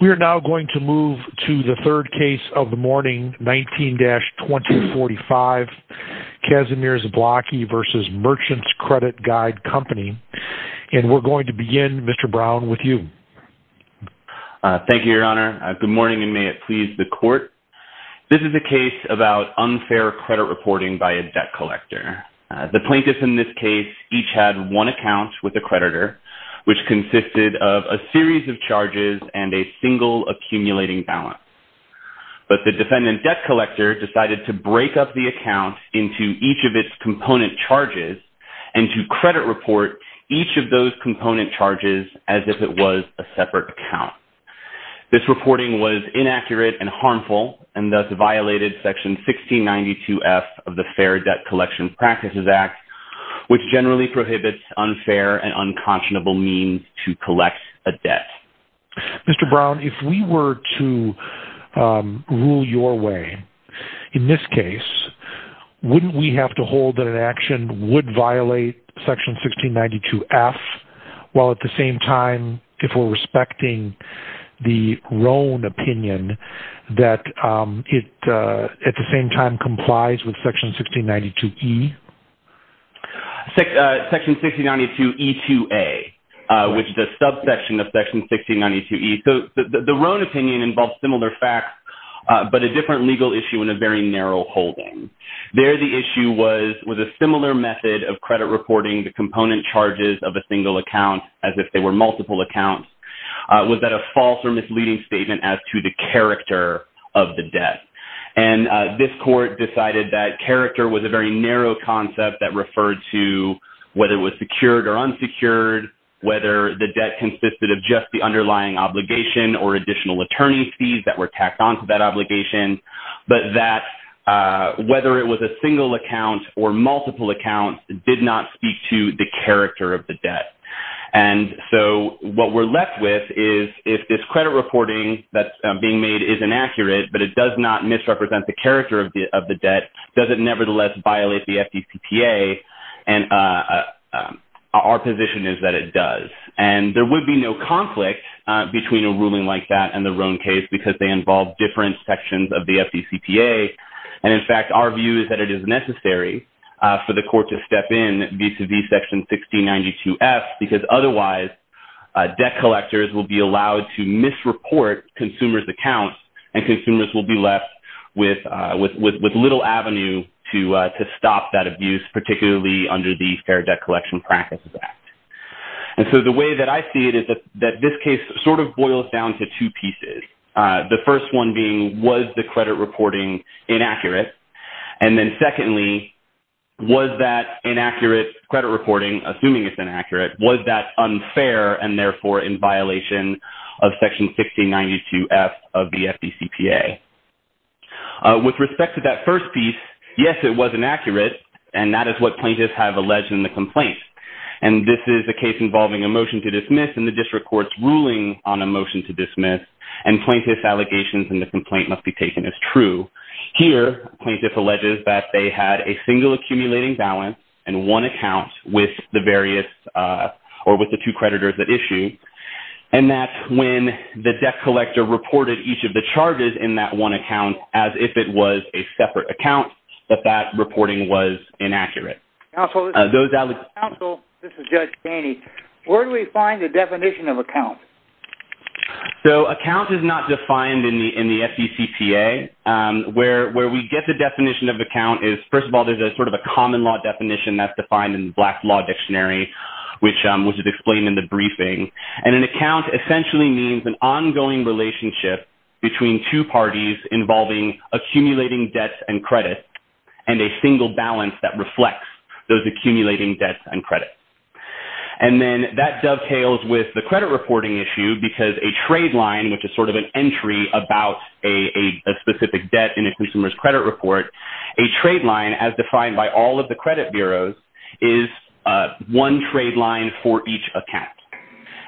We are now going to move to the third case of the morning, 19-2045, Casimir Zablocki v. Merchants Credit Guide Company, and we're going to begin, Mr. Brown, with you. Thank you, Your Honor. Good morning, and may it please the Court. This is a case about unfair credit reporting by a debt collector. The plaintiffs in this case each had one account with a creditor, which consisted of a series of charges and a single accumulating balance. But the defendant debt collector decided to break up the account into each of its component charges and to credit report each of those component charges as if it was a separate account. This reporting was inaccurate and harmful and thus violated Section 1692F of the Fair Debt Collection Practices Act, which generally prohibits unfair and unconscionable means to collect a debt. Mr. Brown, if we were to rule your way in this case, wouldn't we have to hold that an action would violate Section 1692F while at the same time, if we're respecting the Roan opinion, that it at the same time complies with Section 1692E? Section 1692E2A, which is a subsection of Section 1692E. The Roan opinion involves similar facts, but a different legal issue and a very narrow holding. There the issue was, was a similar method of credit reporting the component charges of a single account as if they were multiple accounts. Was that a false or misleading statement as to the character of the debt? And this court decided that character was a very narrow concept that referred to whether it was secured or unsecured, whether the debt consisted of just the underlying obligation or additional attorney fees that were tacked on to that obligation, but that whether it was a single account or multiple accounts did not speak to the character of the debt. And so what we're left with is, if this credit reporting that's being made is inaccurate, but it does not misrepresent the character of the debt, does it nevertheless violate the FDCPA? And our position is that it does. And there would be no conflict between a ruling like that and the Roan case because they involve different sections of the FDCPA. And in fact, our view is that it is necessary for the court to step in to the section 1692F because otherwise debt collectors will be allowed to misreport consumers' accounts and consumers will be left with little avenue to stop that abuse, particularly under the Fair Debt Collection Practices Act. And so the way that I see it is that this case sort of boils down to two pieces, the first one being, was the credit reporting inaccurate? And then secondly, was that inaccurate credit reporting, assuming it's inaccurate, was that unfair and therefore in violation of section 1692F of the FDCPA? With respect to that first piece, yes, it was inaccurate, and that is what plaintiffs have alleged in the complaint. And this is a case involving a motion to dismiss and the district court's ruling on a motion to dismiss, and plaintiff's allegations in the complaint must be taken as true. Here, plaintiff alleges that they had a single accumulating balance and one account with the various or with the two creditors at issue, and that when the debt collector reported each of the charges in that one account as if it was a separate account, that that reporting was inaccurate. Counsel, this is Judge Dainey. Where do we find the definition of account? So, account is not defined in the FDCPA. Where we get the definition of account is, first of all, there's a sort of a common law definition that's defined in the Black Law Dictionary, which is explained in the briefing. And an account essentially means an ongoing relationship between two parties involving accumulating debts and credits and a single balance that reflects those accumulating debts and credits. And then that dovetails with the credit reporting issue because a trade line, which is sort of an entry about a specific debt in a consumer's credit report, a trade line as defined by all of the credit bureaus is one trade line for each account.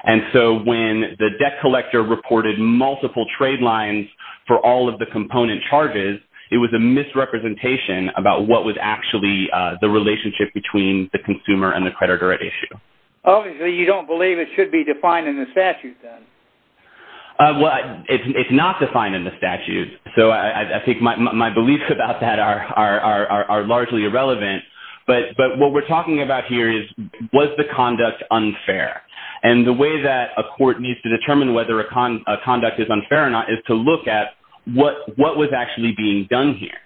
And so when the debt collector reported multiple trade lines for all of the component charges, it was a misrepresentation about what was actually the relationship between the consumer and the creditor at issue. Obviously, you don't believe it should be defined in the statute, then. Well, it's not defined in the statute. So I think my beliefs about that are largely irrelevant. But what we're talking about here is, was the conduct unfair? And the way that a court needs to determine whether a conduct is unfair or not is to look at what was actually being done here.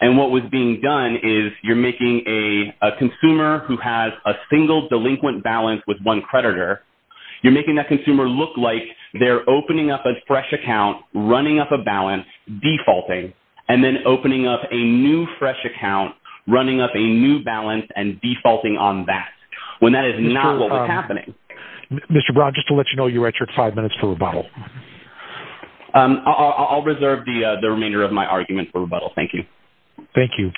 And what was being done is you're making a consumer who has a single delinquent balance with one creditor, you're making that consumer look like they're opening up a fresh account, running up a balance, defaulting, and then opening up a new fresh account, running up a new balance, and defaulting on that when that is not what was happening. Mr. Brown, just to let you know, you're at your five minutes for rebuttal. I'll reserve the remainder of my argument for rebuttal. Thank you. Thank you.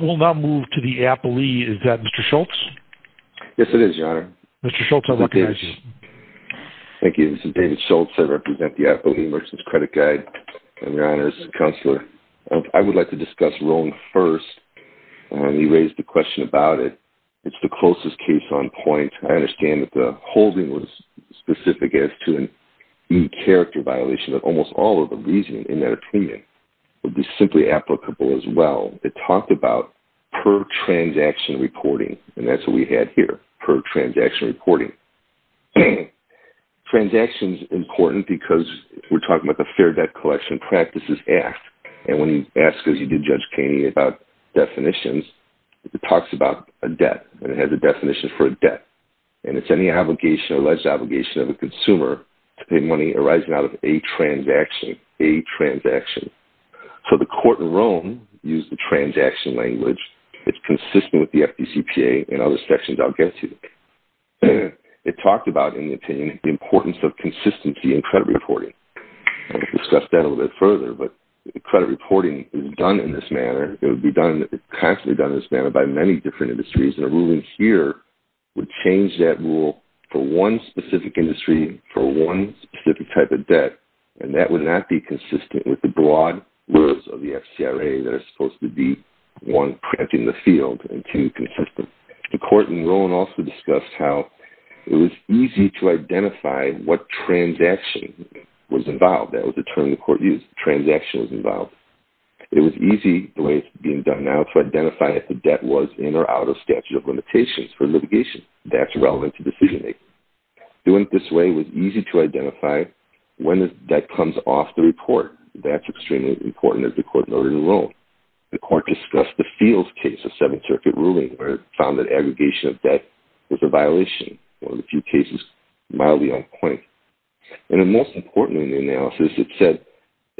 We'll now move to the appellee. Is that Mr. Schultz? Yes, it is, Your Honor. Mr. Schultz, I recognize you. Thank you. This is David Schultz. I represent the Appellee and Merchants Credit Guide. Your Honor, this is a counselor. I would like to discuss Roan first. You raised the question about it. It's the closest case on point. I understand that the holding was specific as to an e-character violation of almost all of the reasoning in that opinion. It was simply applicable as well. It talked about per-transaction reporting, and that's what we had here, per-transaction reporting. Transaction is important because we're talking about the Fair Debt Collection Practices Act, and when you ask, as you did, Judge Kainey, about definitions, it talks about a debt, and it has a definition for a debt, and it's any obligation or alleged obligation of a consumer to pay money arising out of a transaction, a transaction. So the court in Roan used the transaction language. It's consistent with the FDCPA and other sections I'll get to. It talked about, in the opinion, the importance of consistency in credit reporting. We'll discuss that a little bit further, but credit reporting is done in this manner. It would be constantly done in this manner by many different industries, and a ruling here would change that rule for one specific industry, for one specific type of debt, and that would not be consistent with the broad rules of the FCRA that are supposed to be, one, preempting the field, and two, consistent. The court in Roan also discussed how it was easy to identify what transaction was involved. That was the term the court used, the transaction was involved. It was easy, the way it's being done now, to identify if the debt was in or out of statute of limitations for litigation. That's relevant to decision-making. Doing it this way was easy to identify when the debt comes off the report. That's extremely important, as the court noted in Roan. The court discussed the Fields case, a Seventh Circuit ruling, where it found that aggregation of debt was a violation, one of the few cases mildly on point. And most importantly in the analysis, it said,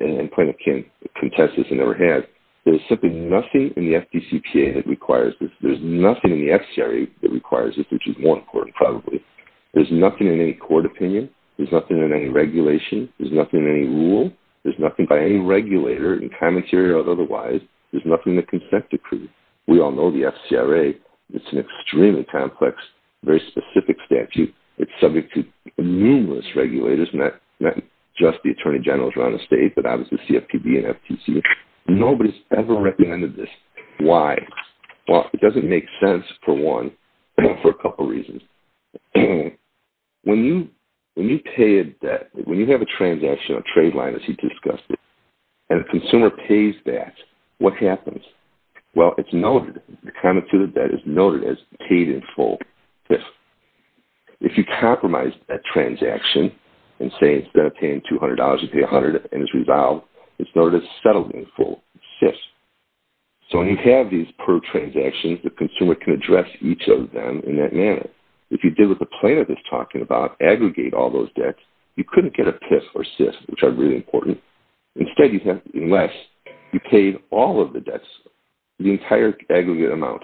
and point of contention it never had, there's simply nothing in the FDCPA that requires this. There's nothing in the FCRA that requires this, which is more important probably. There's nothing in any court opinion. There's nothing in any regulation. There's nothing in any rule. There's nothing by any regulator in commentary or otherwise. There's nothing in the consent decree. We all know the FCRA, it's an extremely complex, very specific statute. It's subject to numerous regulators, not just the attorney generals around the state, but obviously CFPB and FTC. Nobody's ever recommended this. Why? Well, it doesn't make sense, for one, for a couple reasons. When you pay a debt, when you have a transaction, a trade line as he discussed it, and a consumer pays that, what happens? Well, it's noted. The comment to the debt is noted as paid in full, FIF. If you compromise a transaction and say instead of paying $200, you pay $100 and it's resolved, it's noted as settled in full, SIF. So when you have these per transactions, the consumer can address each of them in that manner. If you did what the plaintiff is talking about, aggregate all those debts, you couldn't get a FIF or SIF, which are really important. Instead, unless you paid all of the debts, the entire aggregate amount,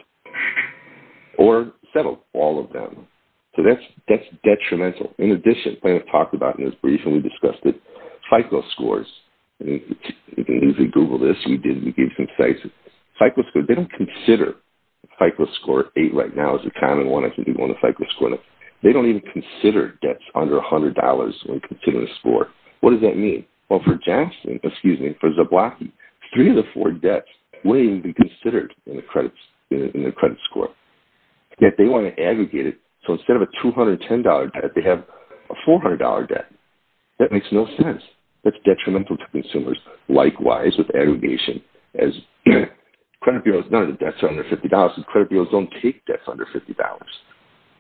or settled all of them. So that's detrimental. In addition, the plaintiff talked about in his brief, and we discussed it, FICO scores. You can easily Google this. We did. We gave some sites. FICO scores, they don't consider FICO score eight right now as a common one. I think people want a FICO score. They don't even consider debts under $100 when considering a score. What does that mean? Well, for Jackson, excuse me, for Zablocki, three of the four debts wouldn't even be considered in the credit score. Yet they want to aggregate it. So instead of a $210 debt, they have a $400 debt. That makes no sense. That's detrimental to consumers. Likewise, with aggregation, as credit bureaus, none of the debts are under $50, and credit bureaus don't take debts under $50.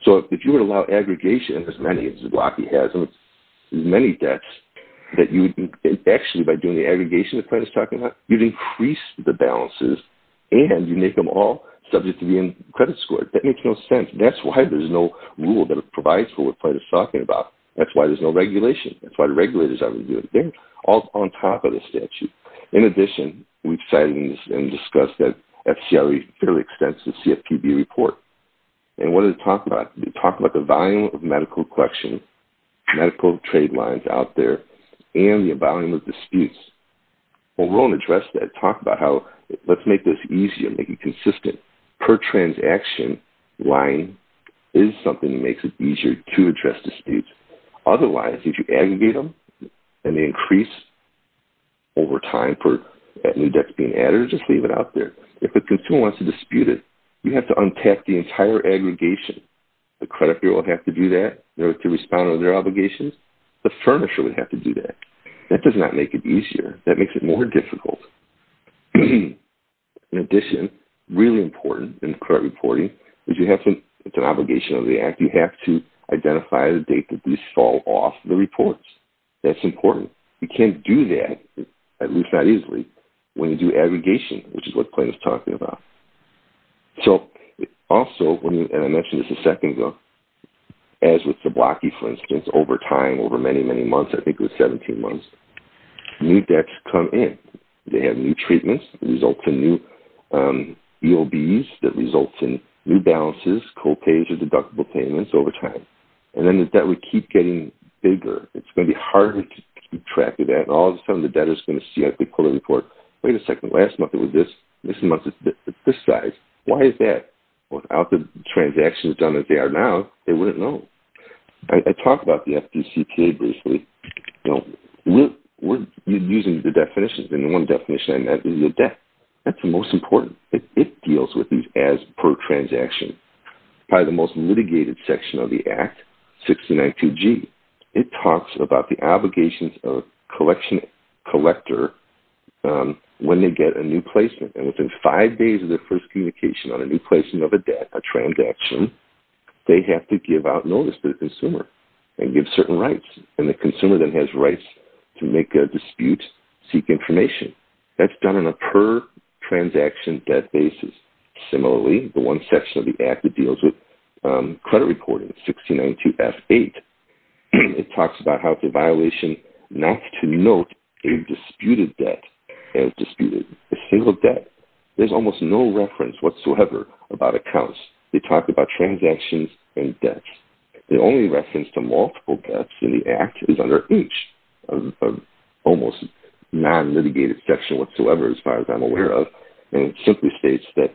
So if you were to allow aggregation, as many as Zablocki has, as many debts, that you would actually, by doing the aggregation the plaintiff's talking about, you'd increase the balances, and you'd make them all subject to being credit scored. That makes no sense. That's why there's no rule that provides for what the plaintiff's talking about. That's why there's no regulation. That's why the regulators aren't going to do it. They're all on top of the statute. In addition, we've cited and discussed the FCRE fairly extensive CFPB report. And what did it talk about? It talked about the volume of medical collection, medical trade lines out there, and the volume of disputes. When we're going to address that, talk about how let's make this easy and make it consistent. Per transaction line is something that makes it easier to address disputes. Otherwise, if you aggregate them and they increase over time for new debts being added, just leave it out there. If the consumer wants to dispute it, you have to untap the entire aggregation. The credit bureau will have to do that in order to respond to their obligations. The furnisher would have to do that. That does not make it easier. That makes it more difficult. In addition, really important in credit reporting is you have to, it's an obligation of the act, you have to identify the date that these fall off the reports. That's important. You can't do that, at least not easily, when you do aggregation, which is what Clayton is talking about. Also, and I mentioned this a second ago, as with Zablocki, for instance, over time, over many, many months, I think it was 17 months, new debts come in. They have new treatments that result in new EOBs, that results in new balances, co-pages, deductible payments over time. Then the debt would keep getting bigger. It's going to be harder to keep track of that. All of a sudden, the debtor is going to see that they pull the report, wait a second, last month it was this, this month it's this size. Why is that? Without the transactions done as they are now, they wouldn't know. I talked about the FDCK briefly. We're using the definitions, and the one definition I meant is the debt. That's the most important. It deals with these as per transaction. Probably the most litigated section of the act, 692G. It talks about the obligations of a collection collector when they get a new placement. Within five days of their first communication on a new placement of a debt, a transaction, they have to give out notice to the consumer and give certain rights. The consumer then has rights to make a dispute, seek information. That's done on a per transaction debt basis. Similarly, the one section of the act that deals with credit reporting, 692F8, it talks about how it's a violation not to note a disputed debt as disputed. A single debt, there's almost no reference whatsoever about accounts. They talk about transactions and debts. The only reference to multiple debts in the act is under each, almost non-litigated section whatsoever as far as I'm aware of, and it simply states that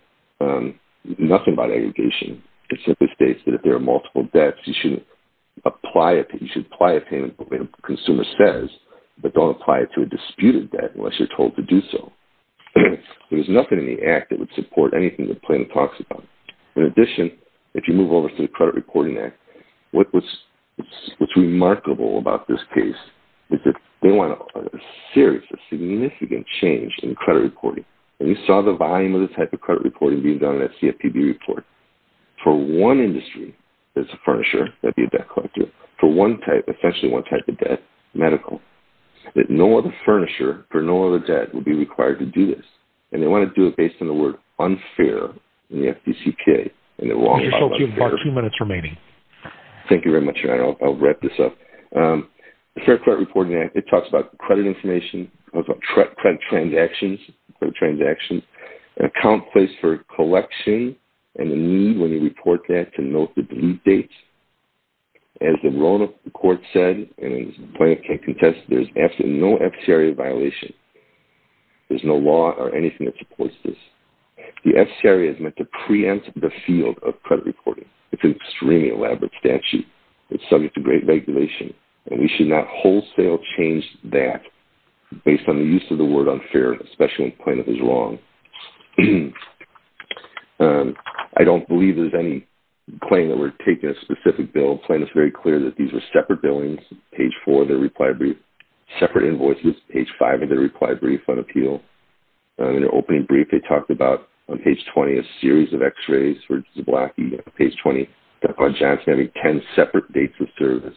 nothing about aggregation. It simply states that if there are multiple debts, you should apply a payment, what the consumer says, but don't apply it to a disputed debt unless you're told to do so. There's nothing in the act that would support anything the plan talks about. In addition, if you move over to the Credit Reporting Act, what's remarkable about this case is that they want a serious, a significant change in credit reporting. We saw the volume of the type of credit reporting being done in that CFPB report. For one industry, there's a furnisher, that'd be a debt collector. For one type, essentially one type of debt, medical. No other furnisher for no other debt would be required to do this, and they want to do it based on the word unfair in the FDCK. You have about two minutes remaining. Thank you very much. I'll wrap this up. The Fair Credit Reporting Act, it talks about credit information, it talks about credit transactions, an account placed for collection and the need, when you report that, to note the delete dates. As the court said, and the plaintiff can contest, there's absolutely no FCRA violation. There's no law or anything that supports this. The FCRA is meant to preempt the field of credit reporting. It's an extremely elaborate statute. It's subject to great regulation, and we should not wholesale change that. Based on the use of the word unfair, especially when the plaintiff is wrong. I don't believe there's any claim that we're taking a specific bill. The plaintiff is very clear that these are separate billings, page four of their reply brief, separate invoices, page five of their reply brief on appeal. In their opening brief, they talked about, on page 20, a series of x-rays for Zablocki. On page 20, they talked about Janssen having ten separate dates of service.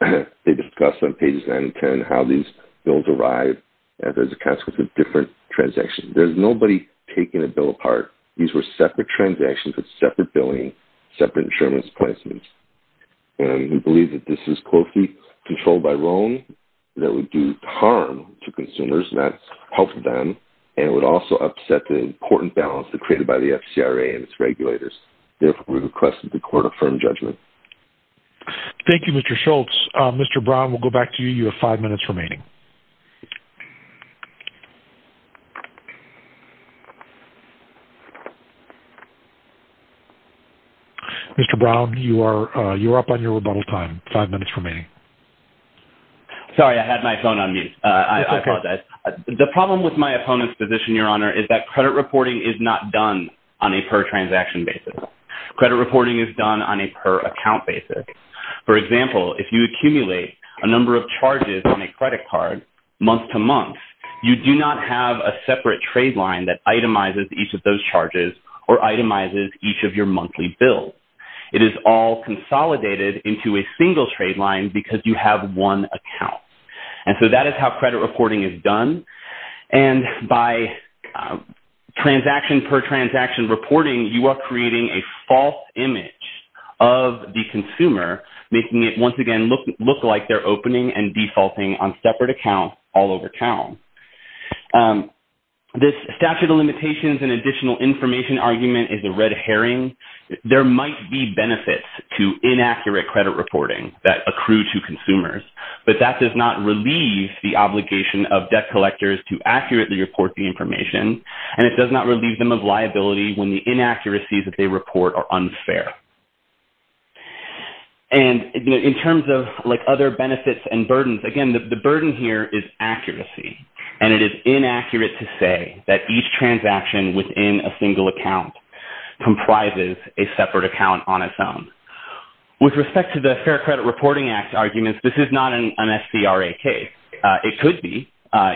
They discussed on pages nine and ten how these bills arrive, and there's a consequence of different transactions. There's nobody taking a bill apart. These were separate transactions with separate billing, separate insurance placements. We believe that this is closely controlled by Roan, that would do harm to consumers, not help them, and would also upset the important balance created by the FCRA and its regulators. Therefore, we request that the court affirm judgment. Thank you, Mr. Schultz. Mr. Brown, we'll go back to you. You have five minutes remaining. Mr. Brown, you are up on your rebuttal time. Five minutes remaining. Sorry, I had my phone on mute. I apologize. The problem with my opponent's position, Your Honor, is that credit reporting is not done on a per-transaction basis. Credit reporting is done on a per-account basis. For example, if you accumulate a number of charges on a credit card month to month, you do not have a separate trade line that itemizes each of those charges or itemizes each of your monthly bills. It is all consolidated into a single trade line because you have one account. And so that is how credit reporting is done. And by transaction-per-transaction reporting, you are creating a false image of the consumer, making it once again look like they're opening and defaulting on separate accounts all over town. This statute of limitations and additional information argument is a red herring. There might be benefits to inaccurate credit reporting that accrue to consumers, but that does not relieve the obligation of debt collectors to accurately report the information, and it does not relieve them of liability when the inaccuracies that they report are unfair. In terms of other benefits and burdens, again, the burden here is accuracy, and it is inaccurate to say that each transaction within a single account comprises a separate account on its own. With respect to the Fair Credit Reporting Act arguments, this is not an SCRA case. It could be,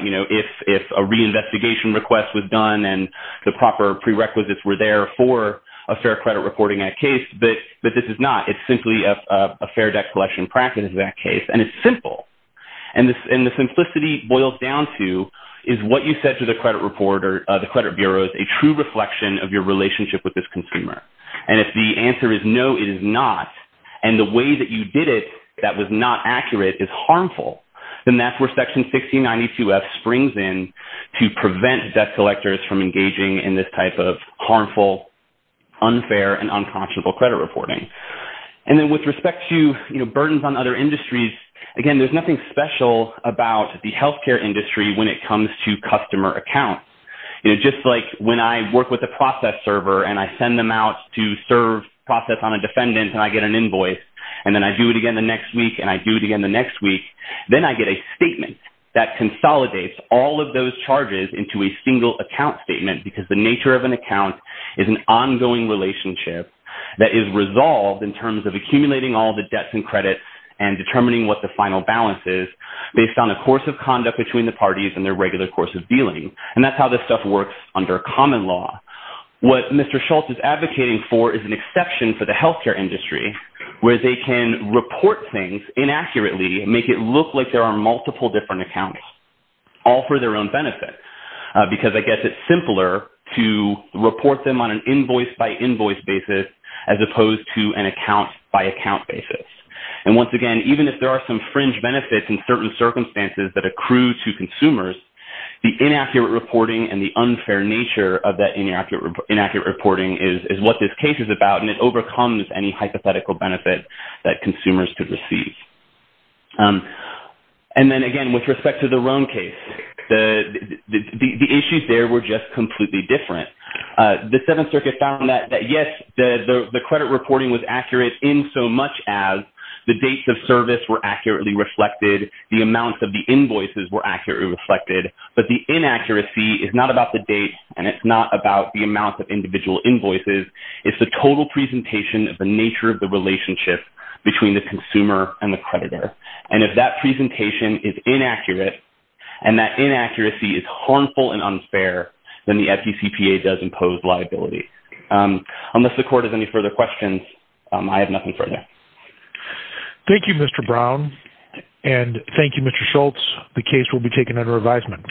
you know, if a reinvestigation request was done and the proper prerequisites were there for a fair credit reporting act case, but this is not. It's simply a fair debt collection practice in that case, and it's simple. And the simplicity boils down to is what you said to the credit reporter, the credit bureaus, a true reflection of your relationship with this consumer. And if the answer is no, it is not, and the way that you did it that was not accurate is harmful, then that's where Section 1692F springs in to prevent debt collectors from engaging in this type of harmful, unfair, and unconscionable credit reporting. And then with respect to, you know, burdens on other industries, again, there's nothing special about the healthcare industry when it comes to customer accounts. You know, just like when I work with a process server and I send them out to process on a defendant and I get an invoice, and then I do it again the next week, and I do it again the next week, then I get a statement that consolidates all of those charges into a single account statement because the nature of an account is an ongoing relationship that is resolved in terms of accumulating all the debts and credits and determining what the final balance is based on a course of conduct between the parties and their regular course of dealing. And that's how this stuff works under common law. What Mr. Schultz is advocating for is an exception for the healthcare industry where they can report things inaccurately and make it look like there are multiple different accounts, all for their own benefit, because I guess it's simpler to report them on an invoice-by-invoice basis as opposed to an account-by-account basis. And once again, even if there are some fringe benefits in certain circumstances that accrue to consumers, the inaccurate reporting and the unfair nature of that inaccurate reporting is what this case is about, and it overcomes any hypothetical benefit that consumers could receive. And then again, with respect to the Roam case, the issues there were just completely different. The Seventh Circuit found that, yes, the credit reporting was accurate insomuch as the dates of service were accurately reflected, the amounts of the invoices were accurately reflected, but the inaccuracy is not about the date and it's not about the amount of individual invoices. It's the total presentation of the nature of the relationship between the consumer and the creditor. And if that presentation is inaccurate and that inaccuracy is harmful and unfair, then the FDCPA does impose liability. Unless the Court has any further questions, I have nothing further. Thank you, Mr. Brown, and thank you, Mr. Schultz. The case will be taken under advisement.